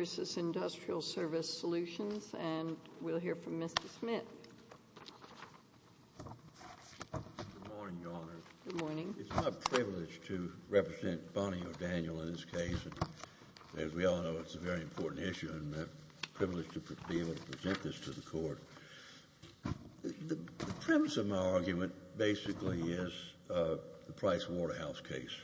s, and we'll hear from Mr. Smith. Good morning, Your Honor. Good morning. It's my privilege to represent Bonnie O'Daniel in this case. As we all know, it's a very important issue, and I'm privileged to be able to present this to the Court. The premise of my argument basically is the Price Waterhouse case.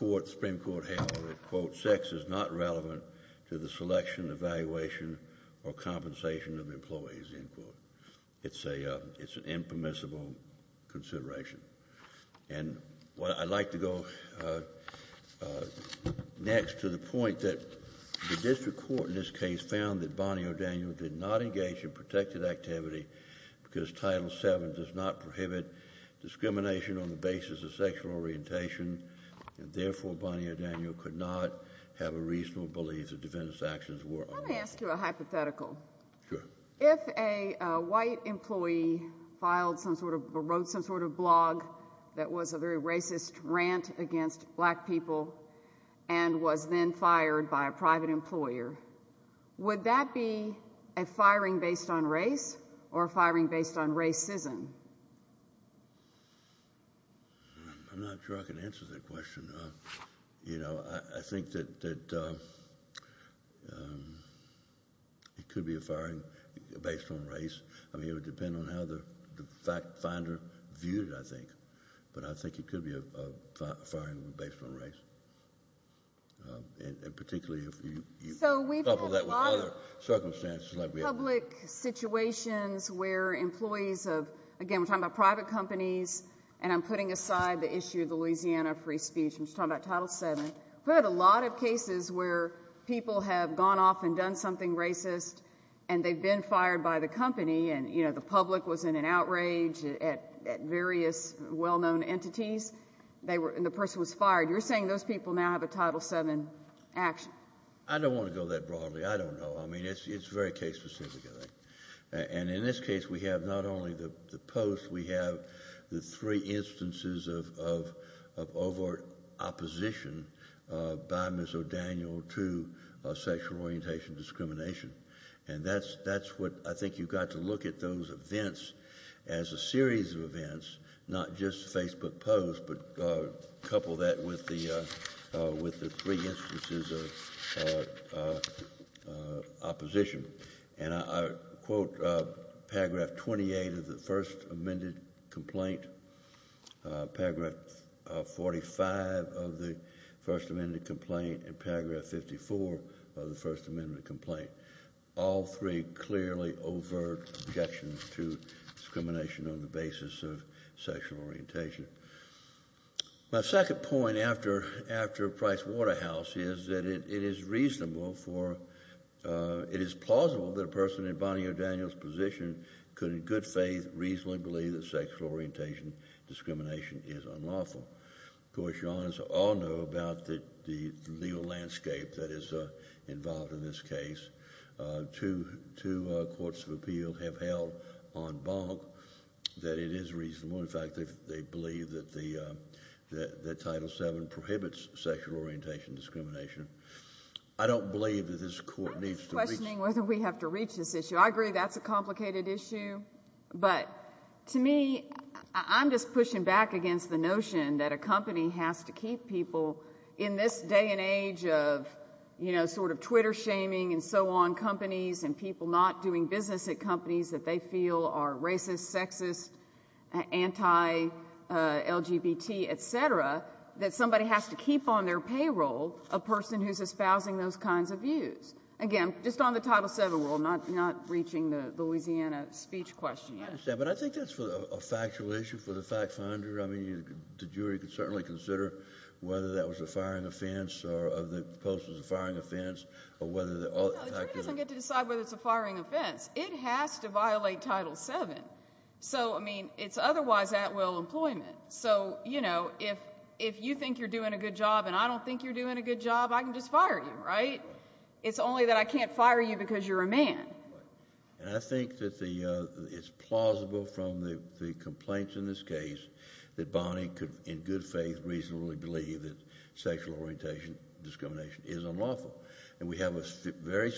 The Supreme Court handled it, quote, sex is not relevant to the selection, evaluation, or compensation of employees, end quote. It's an impermissible consideration. And I'd like to go next to the point that the District Court in this case found that Bonnie O'Daniel did not engage in protected activity because Title VII does not prohibit discrimination on the basis of sexual orientation, and therefore Bonnie O'Daniel could not have a reasonable belief that defendant's actions were unlawful. Let me ask you a hypothetical. Sure. If a white employee filed some sort of, or wrote some sort of blog that was a very racist rant against black people and was then fired by a private employer, would that be a firing based on race or a firing based on racism? I'm not sure I can answer that question. You know, I think that it could be a firing based on race. I mean, it would depend on how the finder viewed it, I think. But I think it could be a firing based on race, and particularly if you couple that with other circumstances. So we've had a lot of public situations where employees of, again, we're talking about private companies, and I'm putting aside the issue of the Louisiana free speech, I'm just talking about Title VII. We've had a lot of cases where people have gone off and done something racist, and they've been fired by the company, and, you know, the public was in an outrage at various well-known entities, and the person was fired. You're saying those people now have a Title VII action? I don't want to go that broadly. I don't know. I mean, it's very case-specific, I think. And in this case, we have not only the post, we have the three instances of overt opposition by Ms. O'Daniel to sexual orientation discrimination. And that's what I think you've got to look at those events as a series of events, not just Facebook posts, but couple that with the three instances of opposition. And I quote Paragraph 28 of the First Amendment complaint, Paragraph 45 of the First Amendment complaint, and Paragraph 54 of the First Amendment complaint, all three clearly overt objections to discrimination on the basis of sexual orientation. My second point after Price-Waterhouse is that it is reasonable for, it is plausible that a person in Bonnie O'Daniel's position could in good faith reasonably believe that sexual orientation discrimination is unlawful. Of course, you all know about the legal landscape that is involved in this case. Two courts of appeal have held en banc that it is reasonable. In fact, they believe that Title VII prohibits sexual orientation discrimination. I don't believe that this court needs to reach— I'm not questioning whether we have to reach this issue. I agree that's a complicated issue. But to me, I'm just pushing back against the notion that a company has to keep people in this day and age of, you know, sort of Twitter shaming and so on companies and people not doing business at companies that they feel are racist, sexist, anti-LGBT, et cetera, that somebody has to keep on their payroll a person who's espousing those kinds of views. Again, just on the Title VII rule, not reaching the Louisiana speech question yet. I understand, but I think that's a factual issue for the fact finder. I mean, the jury could certainly consider whether that was a firing offense or whether the post was a firing offense or whether— No, the jury doesn't get to decide whether it's a firing offense. It has to violate Title VII. So, I mean, it's otherwise at will employment. So, you know, if you think you're doing a good job and I don't think you're doing a good job, I can just fire you, right? It's only that I can't fire you because you're a man. And I think that it's plausible from the complaints in this case that Bonnie could in good faith reasonably believe that sexual orientation discrimination is unlawful. And we have a very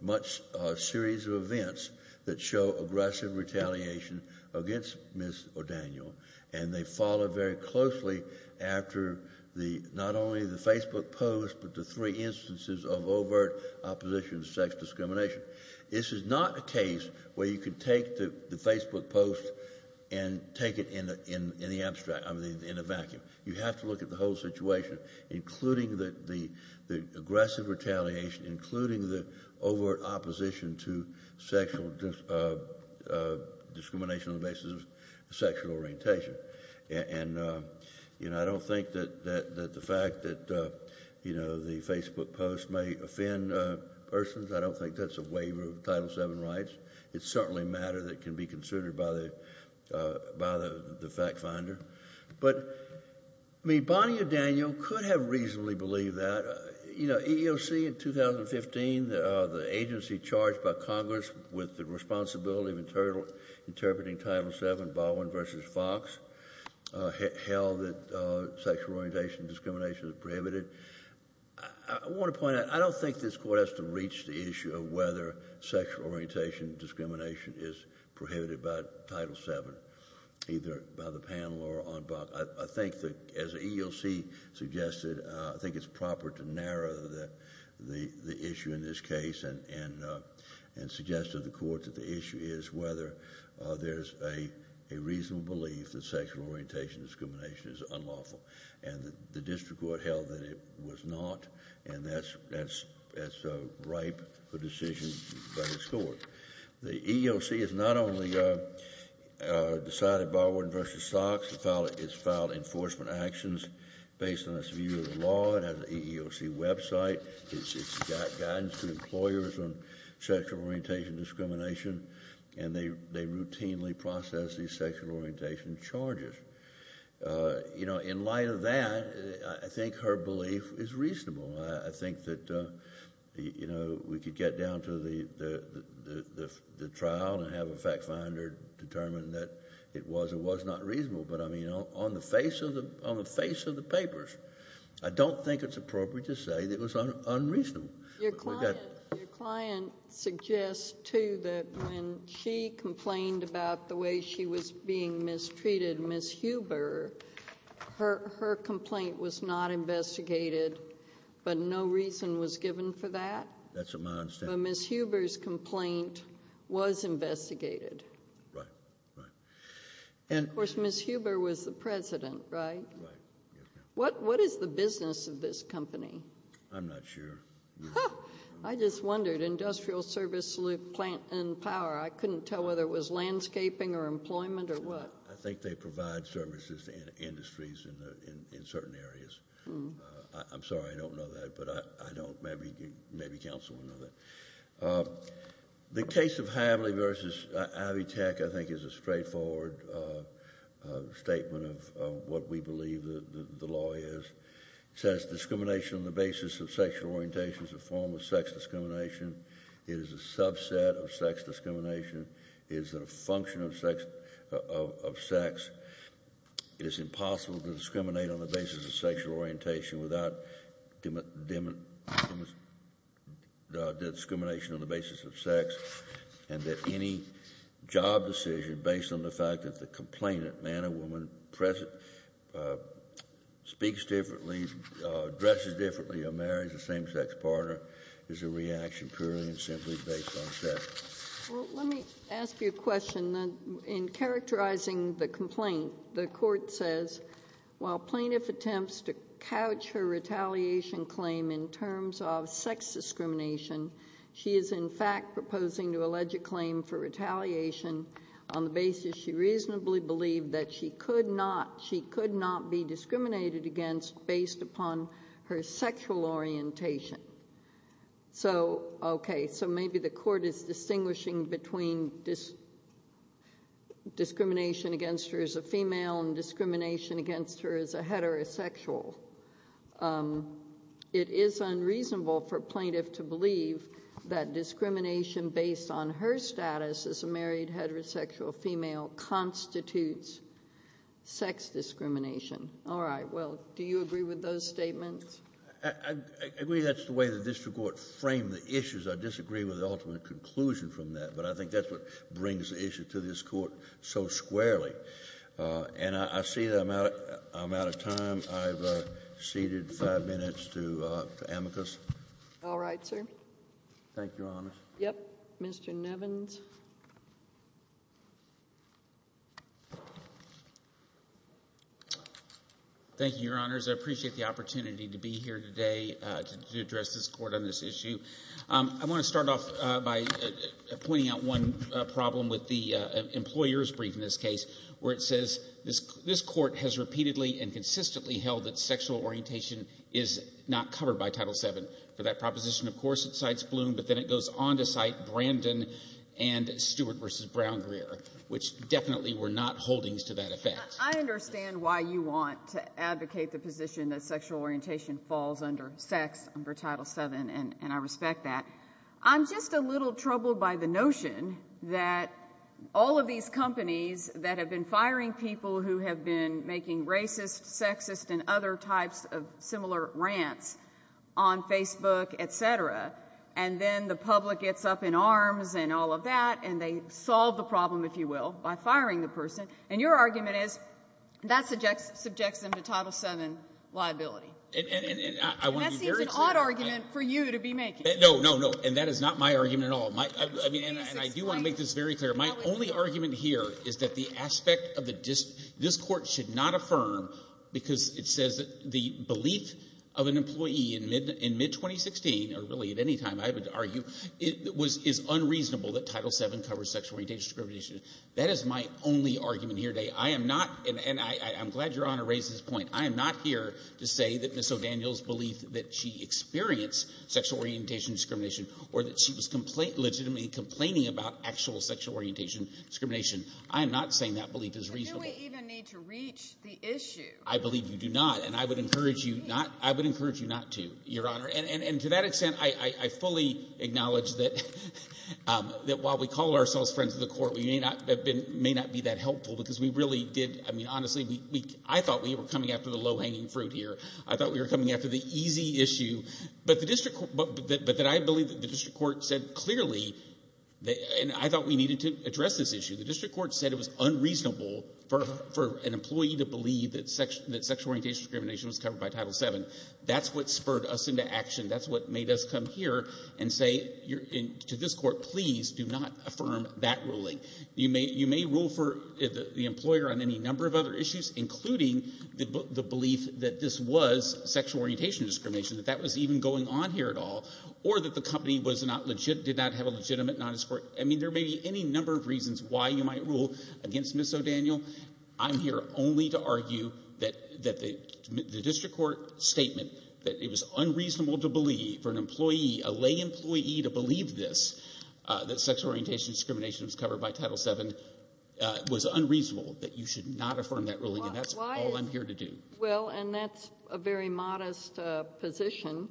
much series of events that show aggressive retaliation against Ms. O'Daniel. And they follow very closely after not only the Facebook post but the three instances of overt opposition to sex discrimination. This is not a case where you can take the Facebook post and take it in the abstract, I mean, in a vacuum. You have to look at the whole situation, including the aggressive retaliation, including the overt opposition to sexual discrimination on the basis of sexual orientation. And, you know, I don't think that the fact that, you know, the Facebook post may offend persons, I don't think that's a waiver of Title VII rights. It's certainly matter that can be considered by the fact finder. But, I mean, Bonnie O'Daniel could have reasonably believed that. You know, EEOC in 2015, the agency charged by Congress with the responsibility of interpreting Title VII, Baldwin v. Fox, held that sexual orientation discrimination is prohibited. I want to point out, I don't think this Court has to reach the issue of whether sexual orientation discrimination is prohibited by Title VII, either by the panel or on BOC. I think that, as EEOC suggested, I think it's proper to narrow the issue in this case and suggest to the Court that the issue is whether there's a reasonable belief that sexual orientation discrimination is unlawful. And the District Court held that it was not. And that's ripe for decision by this Court. The EEOC has not only decided Baldwin v. Fox. It's filed enforcement actions based on its view of the law. It has an EEOC website. It's got guidance to employers on sexual orientation discrimination. And they routinely process these sexual orientation charges. You know, in light of that, I think her belief is reasonable. I think that, you know, we could get down to the trial and have a fact finder determine that it was or was not reasonable. But, I mean, on the face of the papers, I don't think it's appropriate to say that it was unreasonable. Your client suggests, too, that when she complained about the way she was being mistreated, Ms. Huber, her complaint was not investigated, but no reason was given for that. That's what I understand. But Ms. Huber's complaint was investigated. Right, right. And, of course, Ms. Huber was the president, right? Right. What is the business of this company? I'm not sure. I just wondered. Industrial service plant and power. I couldn't tell whether it was landscaping or employment or what. I think they provide services to industries in certain areas. I'm sorry I don't know that, but I don't. Maybe counsel will know that. The case of Havli versus Ivy Tech, I think, is a straightforward statement of what we believe the law is. It says discrimination on the basis of sexual orientation is a form of sex discrimination. It is a subset of sex discrimination. It is a function of sex. It is impossible to discriminate on the basis of sexual orientation without discrimination on the basis of sex. And that any job decision based on the fact that the complainant, man or woman, speaks differently, dresses differently, or marries a same-sex partner is a reaction purely and simply based on sex. Well, let me ask you a question. In characterizing the complaint, the court says while plaintiff attempts to couch her retaliation claim in terms of sex discrimination, she is in fact proposing to allege a claim for retaliation on the basis she reasonably believed that she could not be discriminated against based upon her sexual orientation. Okay, so maybe the court is distinguishing between discrimination against her as a female and discrimination against her as a heterosexual. It is unreasonable for plaintiff to believe that discrimination based on her status as a married heterosexual female constitutes sex discrimination. All right, well, do you agree with those statements? I agree that's the way the district court framed the issues. I disagree with the ultimate conclusion from that, but I think that's what brings the issue to this court so squarely. And I see that I'm out of time. I've ceded five minutes to amicus. All right, sir. Thank you, Your Honor. Yes, Mr. Nevins. Thank you, Your Honors. I appreciate the opportunity to be here today to address this court on this issue. I want to start off by pointing out one problem with the employer's brief in this case where it says this court has repeatedly and consistently held that sexual orientation is not covered by Title VII. For that proposition, of course, it cites Bloom, but then it goes on to cite Brandon and Stewart v. Brown-Greer, which definitely were not holdings to that effect. I understand why you want to advocate the position that sexual orientation falls under sex under Title VII, and I respect that. I'm just a little troubled by the notion that all of these companies that have been firing people who have been making racist, sexist, and other types of similar rants on Facebook, et cetera, and then the public gets up in arms and all of that and they solve the problem, if you will, by firing the person. And your argument is that subjects them to Title VII liability. And that seems an odd argument for you to be making. No, no, no, and that is not my argument at all. And I do want to make this very clear. My only argument here is that the aspect of the – this court should not affirm because it says the belief of an employee in mid-2016, or really at any time I would argue, is unreasonable that Title VII covers sexual orientation discrimination. That is my only argument here today. I am not – and I'm glad Your Honor raised this point. I am not here to say that Ms. O'Daniel's belief that she experienced sexual orientation discrimination or that she was legitimately complaining about actual sexual orientation discrimination. I am not saying that belief is reasonable. But do we even need to reach the issue? I believe you do not, and I would encourage you not to, Your Honor. And to that extent, I fully acknowledge that while we call ourselves friends of the court, we may not be that helpful because we really did – I mean honestly, I thought we were coming after the low-hanging fruit here. I thought we were coming after the easy issue, but the district – but that I believe that the district court said clearly – and I thought we needed to address this issue. The district court said it was unreasonable for an employee to believe that sexual orientation discrimination was covered by Title VII. That's what spurred us into action. That's what made us come here and say to this court, please do not affirm that ruling. You may rule for the employer on any number of other issues, including the belief that this was sexual orientation discrimination, that that was even going on here at all, or that the company was not – did not have a legitimate non-discord. I mean there may be any number of reasons why you might rule against Ms. O'Daniel. I'm here only to argue that the district court statement that it was unreasonable to believe for an employee, a lay employee to believe this, that sexual orientation discrimination was covered by Title VII, was unreasonable, that you should not affirm that ruling. And that's all I'm here to do. Well, and that's a very modest position.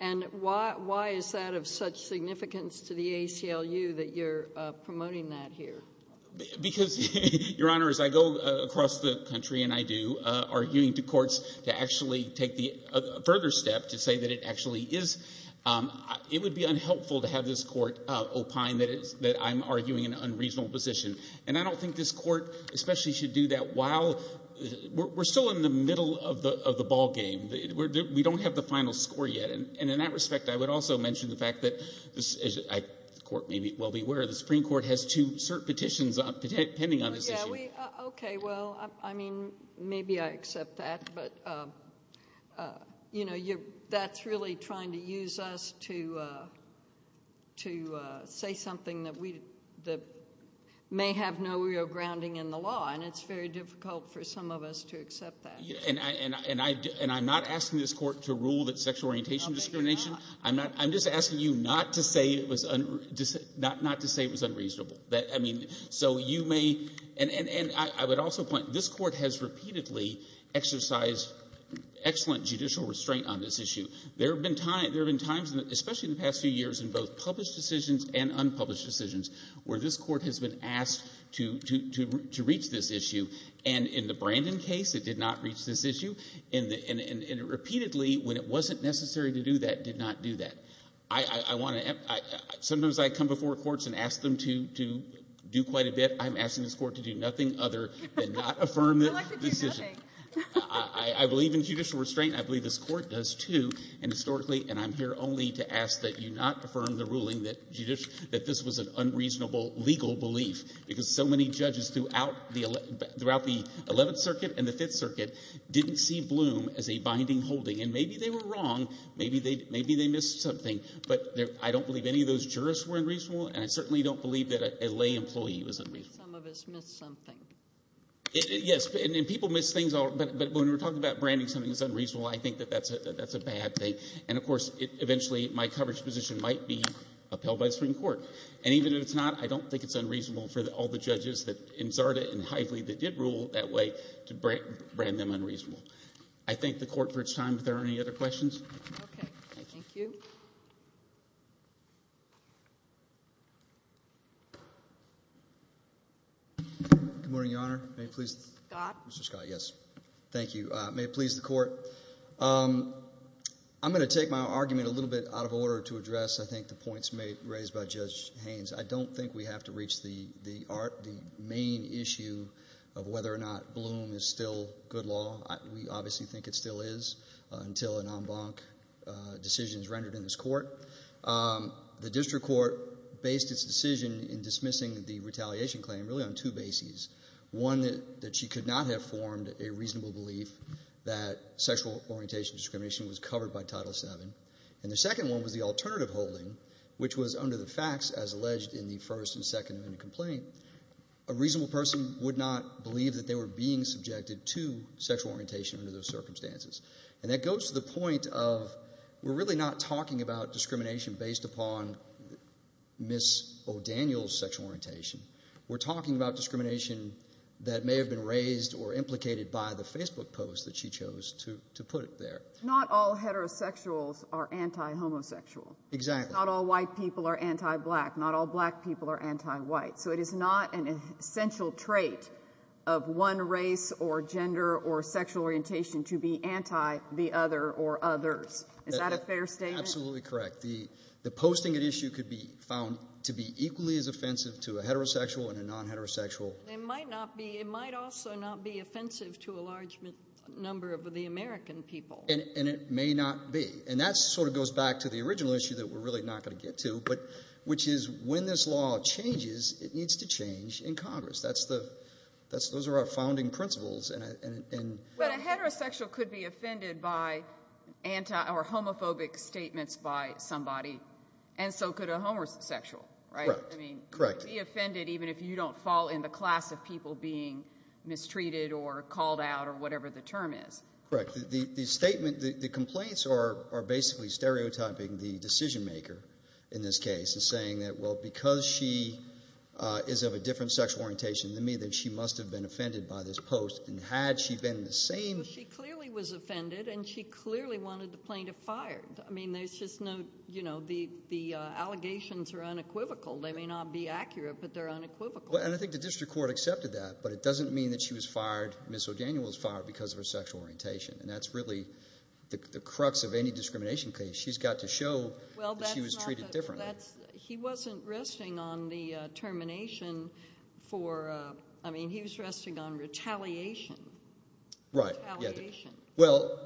And why is that of such significance to the ACLU that you're promoting that here? Because, Your Honor, as I go across the country and I do, arguing to courts to actually take a further step to say that it actually is – it would be unhelpful to have this court opine that I'm arguing an unreasonable position. And I don't think this court especially should do that while – we're still in the middle of the ballgame. We don't have the final score yet. And in that respect, I would also mention the fact that – the court may well be aware – the Supreme Court has two cert petitions pending on this issue. Okay. Well, I mean maybe I accept that. But that's really trying to use us to say something that we – that may have no real grounding in the law. And it's very difficult for some of us to accept that. And I'm not asking this court to rule that sexual orientation is discrimination. I'm just asking you not to say it was unreasonable. I mean, so you may – and I would also point – this court has repeatedly exercised excellent judicial restraint on this issue. There have been times, especially in the past few years, in both published decisions and unpublished decisions where this court has been asked to reach this issue. And in the Brandon case, it did not reach this issue. And it repeatedly, when it wasn't necessary to do that, did not do that. I want to – sometimes I come before courts and ask them to do quite a bit. I'm asking this court to do nothing other than not affirm the decision. I'd like to do nothing. I believe in judicial restraint. I believe this court does too. And historically – and I'm here only to ask that you not affirm the ruling that this was an unreasonable legal belief because so many judges throughout the 11th Circuit and the 5th Circuit didn't see Bloom as a binding holding. And maybe they were wrong. Maybe they missed something. But I don't believe any of those jurists were unreasonable, and I certainly don't believe that a lay employee was unreasonable. Some of us missed something. Yes, and people miss things. But when we're talking about branding something as unreasonable, I think that that's a bad thing. And, of course, eventually my coverage position might be upheld by the Supreme Court. And even if it's not, I don't think it's unreasonable for all the judges in Zarda and Hively that did rule that way to brand them unreasonable. I thank the court for its time. If there are any other questions. Okay. Thank you. Good morning, Your Honor. Mr. Scott? Mr. Scott, yes. Thank you. May it please the court. I'm going to take my argument a little bit out of order to address, I think, the points raised by Judge Haynes. I don't think we have to reach the main issue of whether or not Bloom is still good law. We obviously think it still is until a non-blanc decision is rendered in this court. The district court based its decision in dismissing the retaliation claim really on two bases, one that she could not have formed a reasonable belief that sexual orientation discrimination was covered by Title VII, and the second one was the alternative holding, which was under the facts as alleged in the first and second amendment complaint, a reasonable person would not believe that they were being subjected to sexual orientation under those circumstances. And that goes to the point of we're really not talking about discrimination based upon Ms. O'Daniel's sexual orientation. We're talking about discrimination that may have been raised or implicated by the Facebook post that she chose to put there. Not all heterosexuals are anti-homosexual. Exactly. Not all white people are anti-black. Not all black people are anti-white. So it is not an essential trait of one race or gender or sexual orientation to be anti the other or others. Is that a fair statement? Absolutely correct. The posting at issue could be found to be equally as offensive to a heterosexual and a non-heterosexual. It might also not be offensive to a large number of the American people. And it may not be. And that sort of goes back to the original issue that we're really not going to get to, which is when this law changes, it needs to change in Congress. Those are our founding principles. But a heterosexual could be offended by homophobic statements by somebody, and so could a homosexual, right? Correct. She could be offended even if you don't fall in the class of people being mistreated or called out or whatever the term is. Correct. The statement, the complaints are basically stereotyping the decision maker in this case and saying that, well, because she is of a different sexual orientation than me, then she must have been offended by this post. And had she been the same. She clearly was offended, and she clearly wanted the plaintiff fired. I mean, there's just no, you know, the allegations are unequivocal. They may not be accurate, but they're unequivocal. And I think the district court accepted that. But it doesn't mean that she was fired, Ms. O'Daniel was fired because of her sexual orientation. And that's really the crux of any discrimination case. She's got to show that she was treated differently. He wasn't resting on the termination for, I mean, he was resting on retaliation. Right. Retaliation. Well,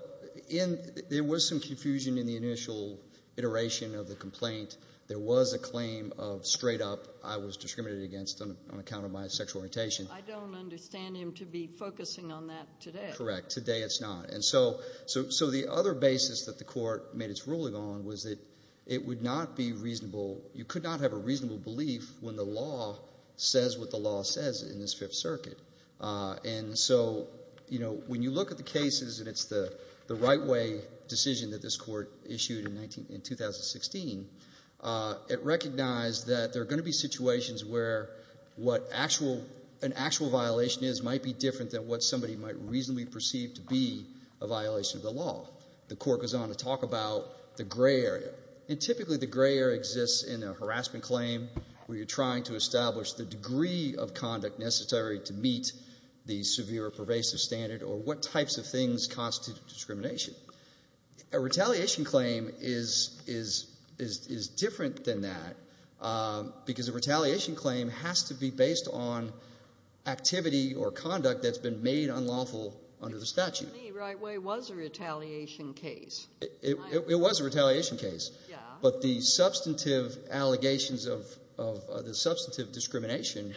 there was some confusion in the initial iteration of the complaint. There was a claim of straight up I was discriminated against on account of my sexual orientation. I don't understand him to be focusing on that today. Correct. Today it's not. And so the other basis that the court made its ruling on was that it would not be reasonable. You could not have a reasonable belief when the law says what the law says in this Fifth Circuit. And so when you look at the cases and it's the right way decision that this court issued in 2016, it recognized that there are going to be situations where what an actual violation is might be different than what somebody might reasonably perceive to be a violation of the law. The court goes on to talk about the gray area. And typically the gray area exists in a harassment claim where you're trying to establish the degree of conduct necessary to meet the severe or pervasive standard or what types of things constitute discrimination. A retaliation claim is different than that because a retaliation claim has to be based on activity or conduct that's been made unlawful under the statute. To me, right way was a retaliation case. It was a retaliation case. But the substantive allegations of the substantive discrimination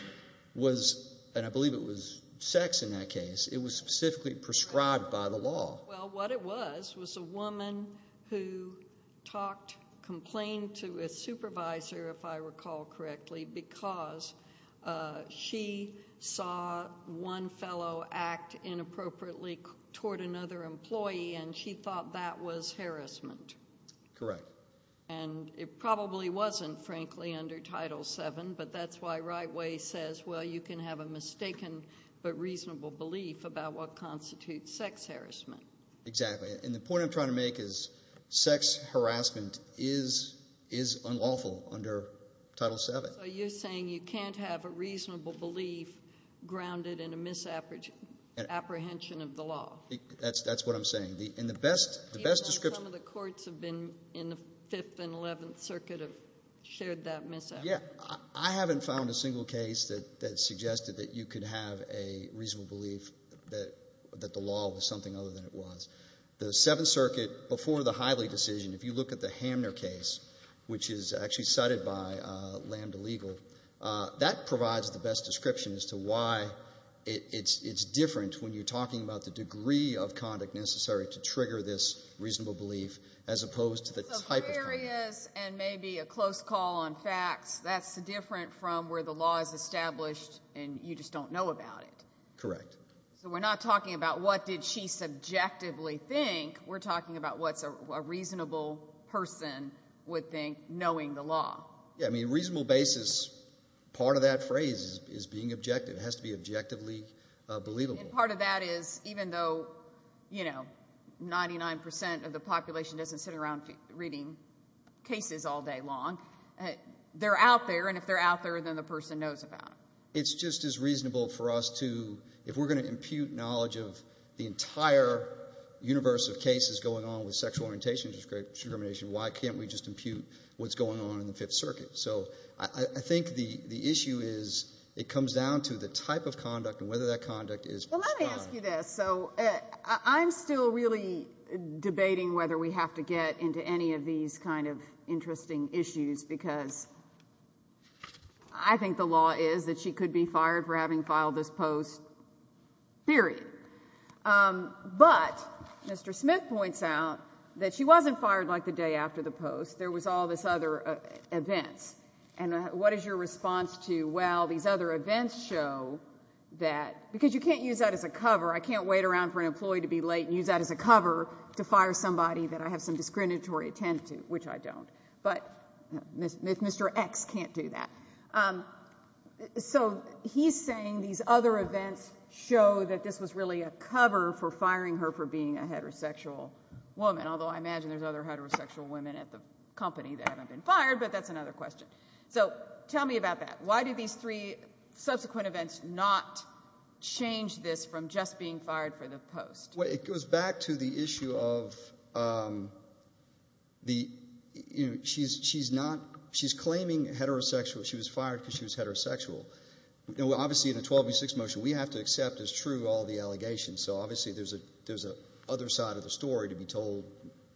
was, and I believe it was sex in that case, it was specifically prescribed by the law. Well, what it was was a woman who talked, complained to a supervisor, if I recall correctly, because she saw one fellow act inappropriately toward another employee and she thought that was harassment. Correct. And it probably wasn't, frankly, under Title VII, but that's why right way says, well, you can have a mistaken but reasonable belief about what constitutes sex harassment. Exactly. And the point I'm trying to make is sex harassment is unlawful under Title VII. So you're saying you can't have a reasonable belief grounded in a misapprehension of the law. That's what I'm saying. Even though some of the courts have been in the Fifth and Eleventh Circuit have shared that misapprehension. Yeah. I haven't found a single case that suggested that you could have a reasonable belief that the law was something other than it was. The Seventh Circuit, before the Hively decision, if you look at the Hamner case, which is actually cited by Lambda Legal, that provides the best description as to why it's different when you're talking about the degree of conduct necessary to trigger this reasonable belief, as opposed to the type of conduct. So there he is and maybe a close call on facts. That's different from where the law is established and you just don't know about it. Correct. So we're not talking about what did she subjectively think. We're talking about what a reasonable person would think knowing the law. Yeah. I mean, reasonable basis, part of that phrase is being objective. It has to be objectively believable. And part of that is even though 99% of the population doesn't sit around reading cases all day long, they're out there and if they're out there, then the person knows about them. It's just as reasonable for us to, if we're going to impute knowledge of the entire universe of cases going on with sexual orientation discrimination, why can't we just impute what's going on in the Fifth Circuit? So I think the issue is it comes down to the type of conduct and whether that conduct is. Well, let me ask you this. So I'm still really debating whether we have to get into any of these kind of interesting issues because I think the law is that she could be fired for having filed this post, period. But Mr. Smith points out that she wasn't fired like the day after the post. There was all this other events. And what is your response to, well, these other events show that, because you can't use that as a cover. I can't wait around for an employee to be late and use that as a cover to fire somebody that I have some discriminatory intent to, which I don't. But Mr. X can't do that. So he's saying these other events show that this was really a cover for firing her for being a heterosexual woman, although I imagine there's other heterosexual women at the company that haven't been fired, but that's another question. So tell me about that. Why did these three subsequent events not change this from just being fired for the post? Well, it goes back to the issue of she's claiming heterosexual. She was fired because she was heterosexual. Obviously, in the 12v6 motion, we have to accept as true all the allegations. So obviously there's an other side of the story to be told,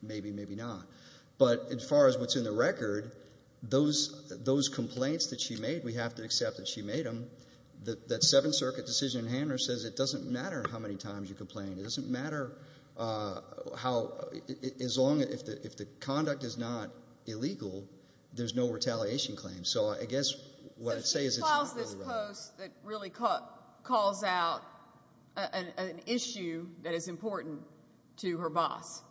maybe, maybe not. But as far as what's in the record, those complaints that she made, we have to accept that she made them. That Seventh Circuit decision in Handler says it doesn't matter how many times you complain. It doesn't matter how – as long – if the conduct is not illegal, there's no retaliation claim. So I guess what I'd say is it's not really relevant. But she files this post that really calls out an issue that is important to her boss,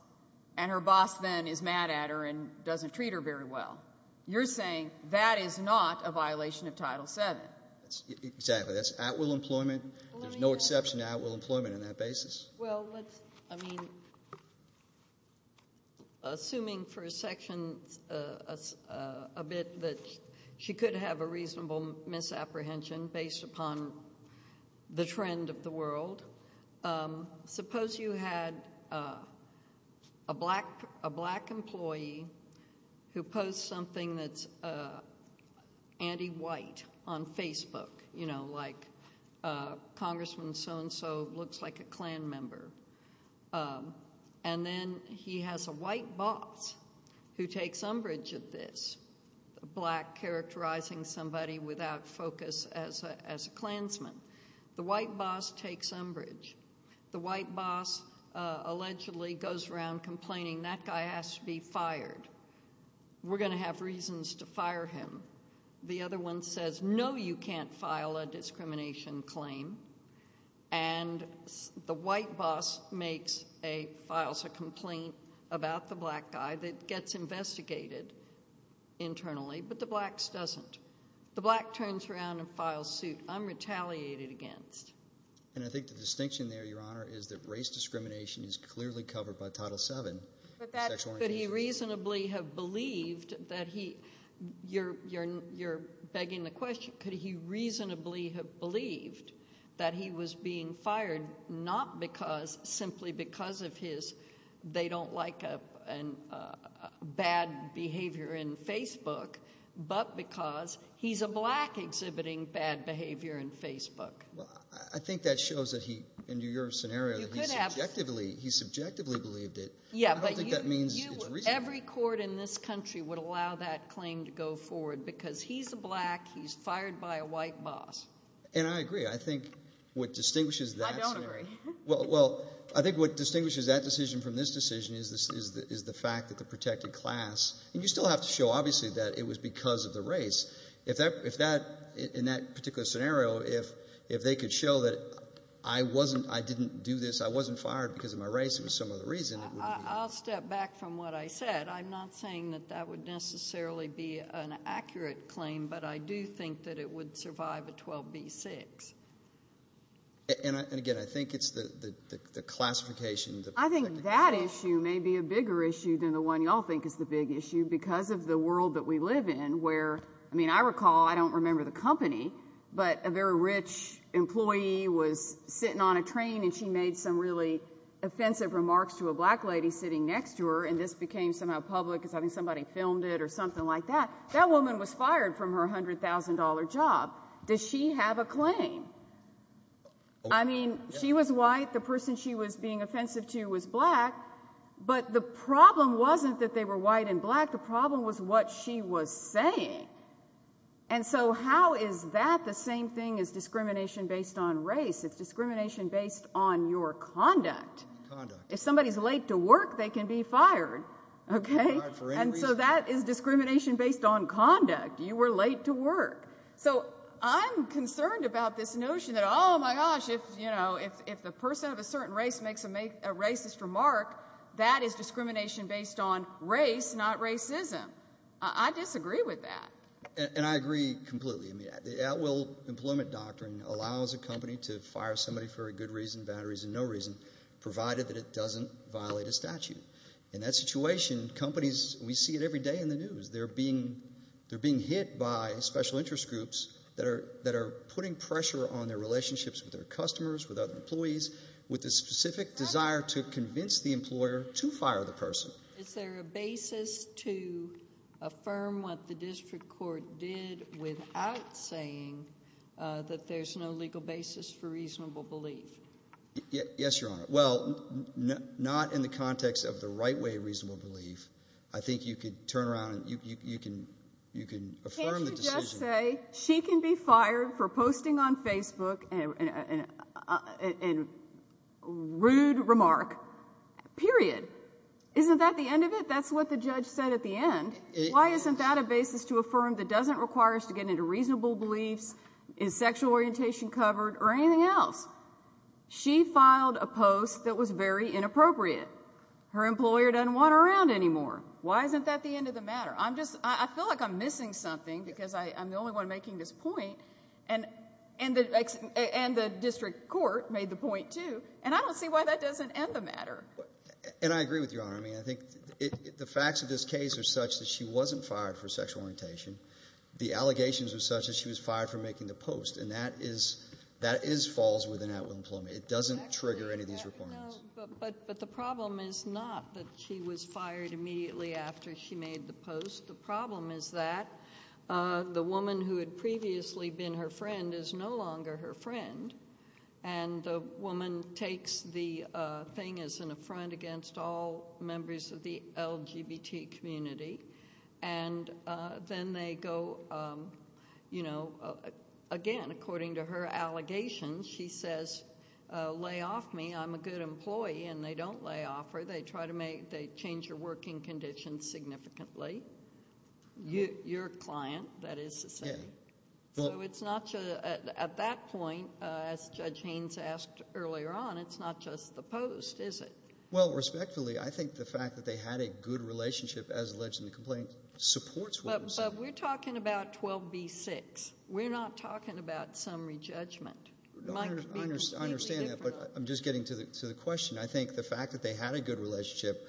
and her boss then is mad at her and doesn't treat her very well. You're saying that is not a violation of Title VII. Exactly. That's at-will employment. There's no exception to at-will employment on that basis. Well, let's – I mean, assuming for a section a bit that she could have a reasonable misapprehension based upon the trend of the world, suppose you had a black employee who posts something that's anti-white on Facebook, you know, like congressman so-and-so looks like a Klan member. And then he has a white boss who takes umbrage at this, a black characterizing somebody without focus as a Klansman. The white boss takes umbrage. The white boss allegedly goes around complaining, that guy has to be fired. We're going to have reasons to fire him. The other one says, no, you can't file a discrimination claim. And the white boss makes a – files a complaint about the black guy that gets investigated internally, but the blacks doesn't. The black turns around and files suit. I'm retaliated against. And I think the distinction there, Your Honor, is that race discrimination is clearly covered by Title VII. Could he reasonably have believed that he – you're begging the question. Could he reasonably have believed that he was being fired not because – simply because of his they don't like bad behavior in Facebook, but because he's a black exhibiting bad behavior in Facebook. Well, I think that shows that he – in your scenario, he subjectively believed it. Yeah, but you – I don't think that means it's reasonable. Every court in this country would allow that claim to go forward because he's a black. He's fired by a white boss. And I agree. I think what distinguishes that scenario – I don't agree. Well, I think what distinguishes that decision from this decision is the fact that the protected class – and you still have to show obviously that it was because of the race. If that – in that particular scenario, if they could show that I wasn't – I didn't do this, I wasn't fired because of my race, it was some other reason. I'll step back from what I said. I'm not saying that that would necessarily be an accurate claim, but I do think that it would survive a 12B6. And, again, I think it's the classification – I think that issue may be a bigger issue than the one you all think is the big issue because of the world that we live in where – I mean, I recall – I don't remember the company, but a very rich employee was sitting on a train, and she made some really offensive remarks to a black lady sitting next to her, and this became somehow public as having somebody filmed it or something like that. That woman was fired from her $100,000 job. Does she have a claim? I mean, she was white. The person she was being offensive to was black. But the problem wasn't that they were white and black. The problem was what she was saying. And so how is that the same thing as discrimination based on race? It's discrimination based on your conduct. If somebody's late to work, they can be fired, okay? And so that is discrimination based on conduct. You were late to work. So I'm concerned about this notion that, oh, my gosh, if the person of a certain race makes a racist remark, that is discrimination based on race, not racism. I disagree with that. And I agree completely. The at-will employment doctrine allows a company to fire somebody for a good reason, bad reason, no reason, provided that it doesn't violate a statute. In that situation, companies, we see it every day in the news, they're being hit by special interest groups that are putting pressure on their relationships with their customers, with other employees, with the specific desire to convince the employer to fire the person. Is there a basis to affirm what the district court did without saying that there's no legal basis for reasonable belief? Yes, Your Honor. Well, not in the context of the right way of reasonable belief. I think you could turn around and you can affirm the decision. Can't you just say she can be fired for posting on Facebook a rude remark, period? Isn't that the end of it? That's what the judge said at the end. Why isn't that a basis to affirm that doesn't require us to get into reasonable beliefs, is sexual orientation covered, or anything else? She filed a post that was very inappropriate. Her employer doesn't want her around anymore. Why isn't that the end of the matter? I feel like I'm missing something because I'm the only one making this point, and the district court made the point too, and I don't see why that doesn't end the matter. And I agree with you, Your Honor. I mean, I think the facts of this case are such that she wasn't fired for sexual orientation. The allegations are such that she was fired for making the post, and that is false with an at-will employment. It doesn't trigger any of these reports. But the problem is not that she was fired immediately after she made the post. The problem is that the woman who had previously been her friend is no longer her friend, and the woman takes the thing as an affront against all members of the LGBT community, and then they go, you know, again, according to her allegations, she says, lay off me, I'm a good employee, and they don't lay off her. They change her working conditions significantly. Your client, that is to say. So it's not at that point, as Judge Haynes asked earlier on, it's not just the post, is it? Well, respectfully, I think the fact that they had a good relationship as alleged in the complaint supports what you're saying. But we're talking about 12b-6. We're not talking about summary judgment. I understand that, but I'm just getting to the question. I think the fact that they had a good relationship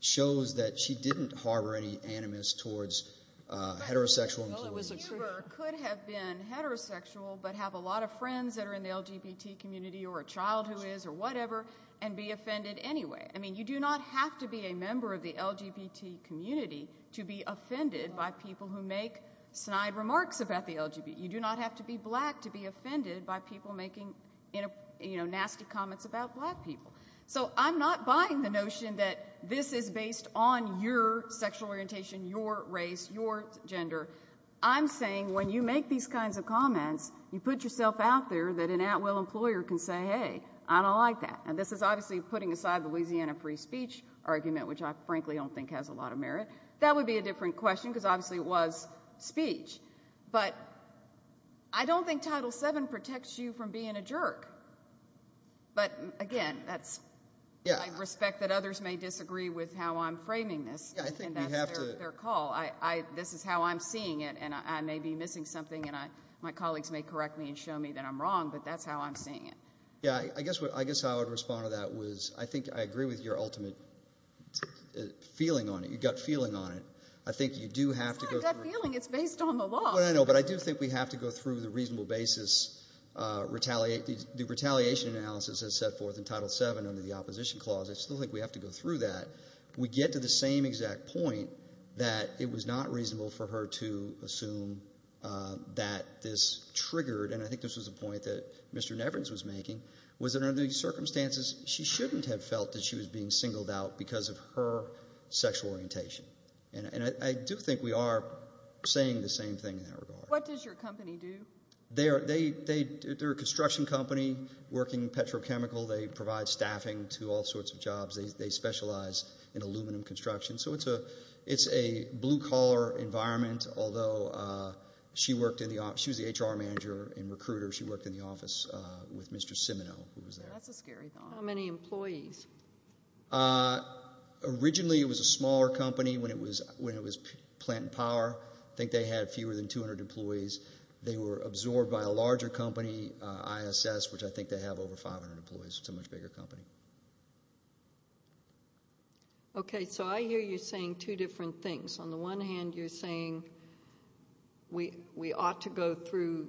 shows that she didn't harbor any animus towards heterosexual employment. A viewer could have been heterosexual but have a lot of friends that are in the LGBT community or a child who is or whatever and be offended anyway. I mean, you do not have to be a member of the LGBT community to be offended by people who make snide remarks about the LGBT. You do not have to be black to be offended by people making nasty comments about black people. So I'm not buying the notion that this is based on your sexual orientation, your race, your gender. I'm saying when you make these kinds of comments, you put yourself out there that an at-will employer can say, hey, I don't like that, and this is obviously putting aside the Louisiana free speech argument, which I frankly don't think has a lot of merit. That would be a different question because obviously it was speech. But I don't think Title VII protects you from being a jerk. But, again, I respect that others may disagree with how I'm framing this, and that's their call. This is how I'm seeing it, and I may be missing something, and my colleagues may correct me and show me that I'm wrong, but that's how I'm seeing it. Yeah, I guess how I would respond to that was I think I agree with your ultimate feeling on it, your gut feeling on it. I think you do have to go through it. It's not a gut feeling. It's based on the law. I know, but I do think we have to go through the reasonable basis. The retaliation analysis is set forth in Title VII under the Opposition Clause. I still think we have to go through that. We get to the same exact point that it was not reasonable for her to assume that this triggered, and I think this was a point that Mr. Nevins was making, was that under these circumstances she shouldn't have felt that she was being singled out because of her sexual orientation. And I do think we are saying the same thing in that regard. What does your company do? They're a construction company working petrochemical. They provide staffing to all sorts of jobs. They specialize in aluminum construction, so it's a blue-collar environment, although she was the HR manager and recruiter. She worked in the office with Mr. Simino, who was there. That's a scary thought. How many employees? Originally it was a smaller company when it was plant and power. I think they had fewer than 200 employees. They were absorbed by a larger company, ISS, which I think they have over 500 employees. It's a much bigger company. Okay, so I hear you saying two different things. On the one hand, you're saying we ought to go through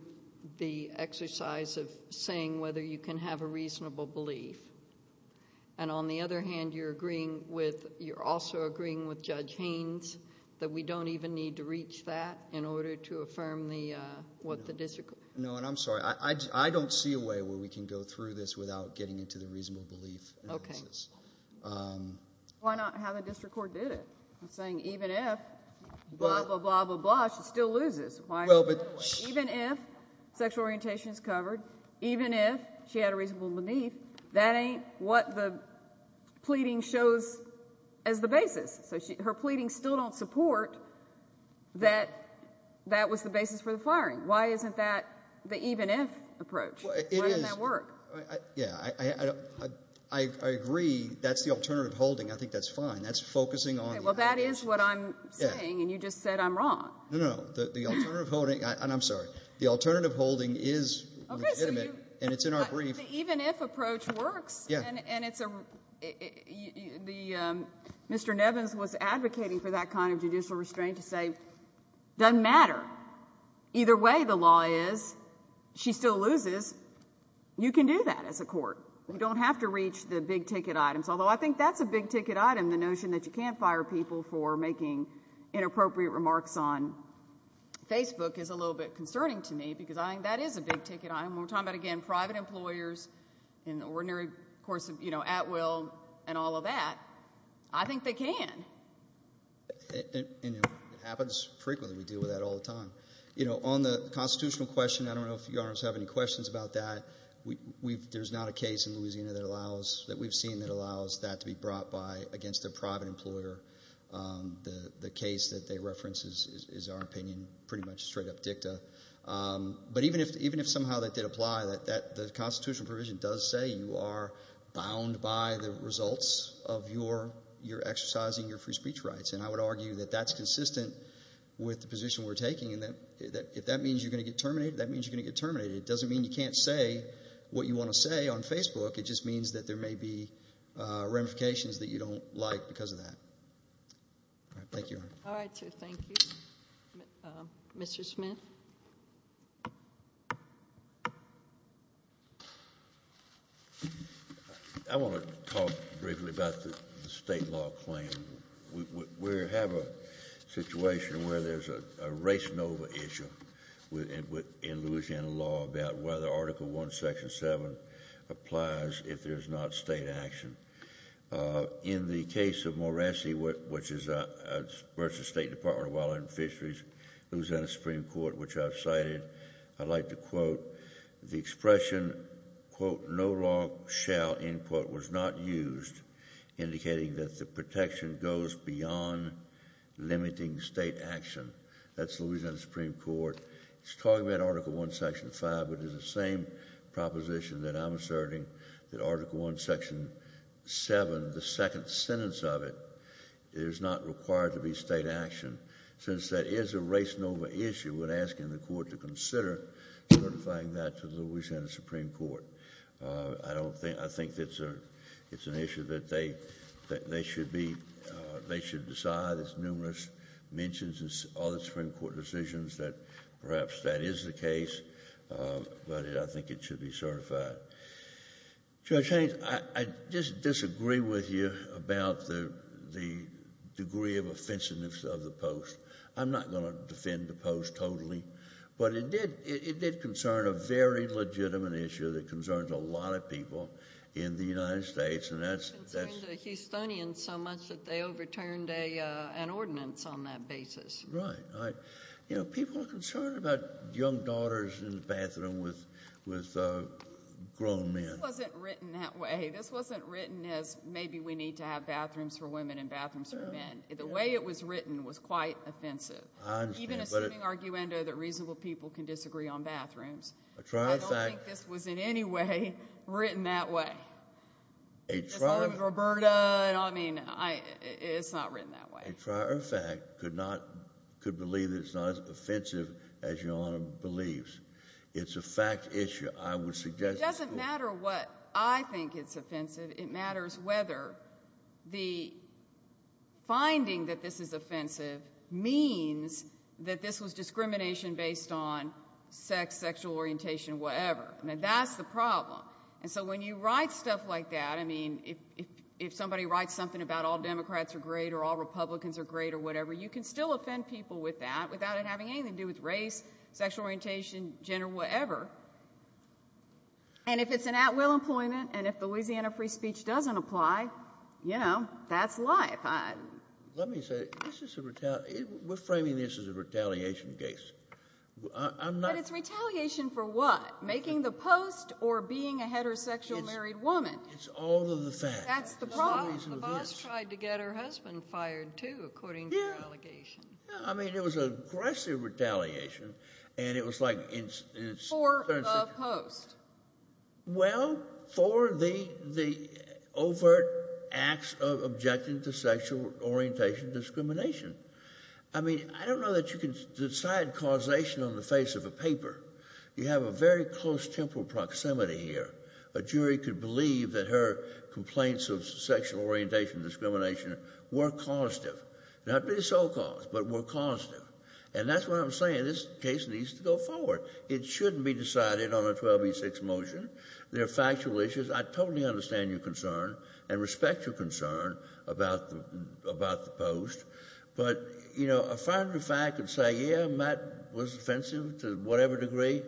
the exercise of saying whether you can have a reasonable belief. And on the other hand, you're also agreeing with Judge Haynes that we don't even need to reach that in order to affirm what the district... No, and I'm sorry. I don't see a way where we can go through this without getting into the reasonable belief analysis. Okay. Why not have a district court did it? I'm saying even if blah, blah, blah, blah, blah, she still loses. Even if sexual orientation is covered, even if she had a reasonable belief, that ain't what the pleading shows as the basis. So her pleadings still don't support that that was the basis for the firing. Why isn't that the even if approach? Why doesn't that work? Yeah, I agree that's the alternative holding. I think that's fine. That's focusing on... Well, that is what I'm saying, and you just said I'm wrong. No, no, no. The alternative holding, and I'm sorry, the alternative holding is legitimate, and it's in our brief. But the even if approach works, and it's a... Mr. Nevins was advocating for that kind of judicial restraint to say it doesn't matter. Either way, the law is she still loses. You can do that as a court. You don't have to reach the big ticket items, although I think that's a big ticket item, the notion that you can't fire people for making inappropriate remarks on Facebook is a little bit concerning to me because I think that is a big ticket item. We're talking about, again, private employers in the ordinary course of at will and all of that. I think they can. It happens frequently. We deal with that all the time. On the constitutional question, I don't know if you have any questions about that. There's not a case in Louisiana that we've seen that allows that to be brought by against a private employer. The case that they reference is, in our opinion, pretty much straight-up dicta. But even if somehow that did apply, the constitutional provision does say you are bound by the results of your exercising your free speech rights, and I would argue that that's consistent with the position we're taking. If that means you're going to get terminated, that means you're going to get terminated. It doesn't mean you can't say what you want to say on Facebook. It just means that there may be ramifications that you don't like because of that. Thank you. All right, sir. Thank you. Mr. Smith? I want to talk briefly about the state law claim. We have a situation where there's a race-over issue in Louisiana law about whether Article I, Section 7 applies if there's not state action. In the case of Morassi, which is versus State Department of Wildlife and Fisheries, Louisiana Supreme Court, which I've cited, I'd like to quote the expression, quote, no law shall, end quote, was not used, indicating that the protection goes beyond limiting state action. That's Louisiana Supreme Court. It's talking about Article I, Section 5, which is the same proposition that I'm asserting that Article I, Section 7, the second sentence of it, is not required to be state action since that is a race-over issue. We're asking the court to consider certifying that to Louisiana Supreme Court. I think it's an issue that they should decide. There's numerous mentions in all the Supreme Court decisions that perhaps that is the case, but I think it should be certified. Judge Haynes, I just disagree with you about the degree of offensiveness of the post. I'm not going to defend the post totally, but it did concern a very legitimate issue that concerns a lot of people in the United States. It concerned the Houstonians so much that they overturned an ordinance on that basis. Right. You know, people are concerned about young daughters in the bathroom with grown men. This wasn't written that way. This wasn't written as maybe we need to have bathrooms for women and bathrooms for men. The way it was written was quite offensive, even assuming arguendo that reasonable people can disagree on bathrooms. I don't think this was in any way written that way. Just like with Roberta. I mean, it's not written that way. A trier fact could believe that it's not as offensive as Your Honor believes. It's a fact issue. I would suggest to the court. It doesn't matter what I think is offensive. It matters whether the finding that this is offensive means that this was discrimination based on sex, sexual orientation, whatever. I mean, that's the problem. And so when you write stuff like that, I mean, if somebody writes something about all Democrats are great or all Republicans are great or whatever, you can still offend people with that without it having anything to do with race, sexual orientation, gender, whatever. And if it's an at will employment and if the Louisiana free speech doesn't apply, you know, that's life. Let me say, we're framing this as a retaliation case. But it's retaliation for what? Making the post or being a heterosexual married woman? It's all of the facts. That's the problem. The boss tried to get her husband fired, too, according to your allegation. I mean, it was aggressive retaliation. And it was like. For the post. Well, for the overt acts of objecting to sexual orientation discrimination. I mean, I don't know that you can decide causation on the face of a paper. You have a very close temporal proximity here. A jury could believe that her complaints of sexual orientation discrimination were causative. Not really sole cause, but were causative. And that's what I'm saying. This case needs to go forward. It shouldn't be decided on a 1286 motion. There are factual issues. I totally understand your concern and respect your concern about the post. But, you know, a final fact would say, yeah, Matt was offensive to whatever degree.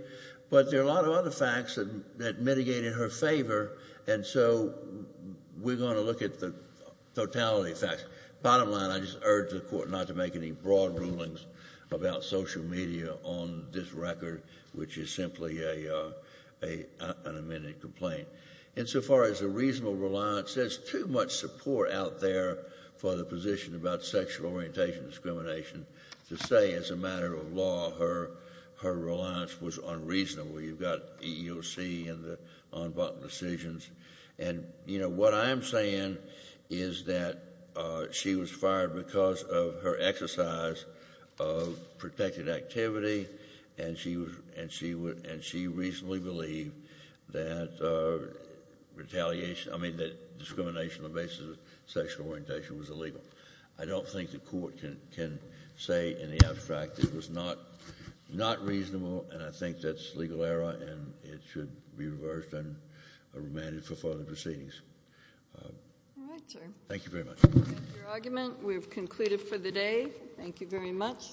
But there are a lot of other facts that mitigate in her favor. And so we're going to look at the totality of facts. Bottom line, I just urge the Court not to make any broad rulings about social media on this record, which is simply an amended complaint. And so far as a reasonable reliance, there's too much support out there for the position about sexual orientation discrimination to say as a matter of law her reliance was unreasonable. You've got EEOC and the unbundled decisions. And, you know, what I'm saying is that she was fired because of her exercise of protected activity, and she reasonably believed that discrimination on the basis of sexual orientation was illegal. I don't think the Court can say in the abstract it was not reasonable, and I think that's legal error and it should be reversed and remanded for further proceedings. All right, sir. Thank you very much. That's your argument. We've concluded for the day. Thank you very much.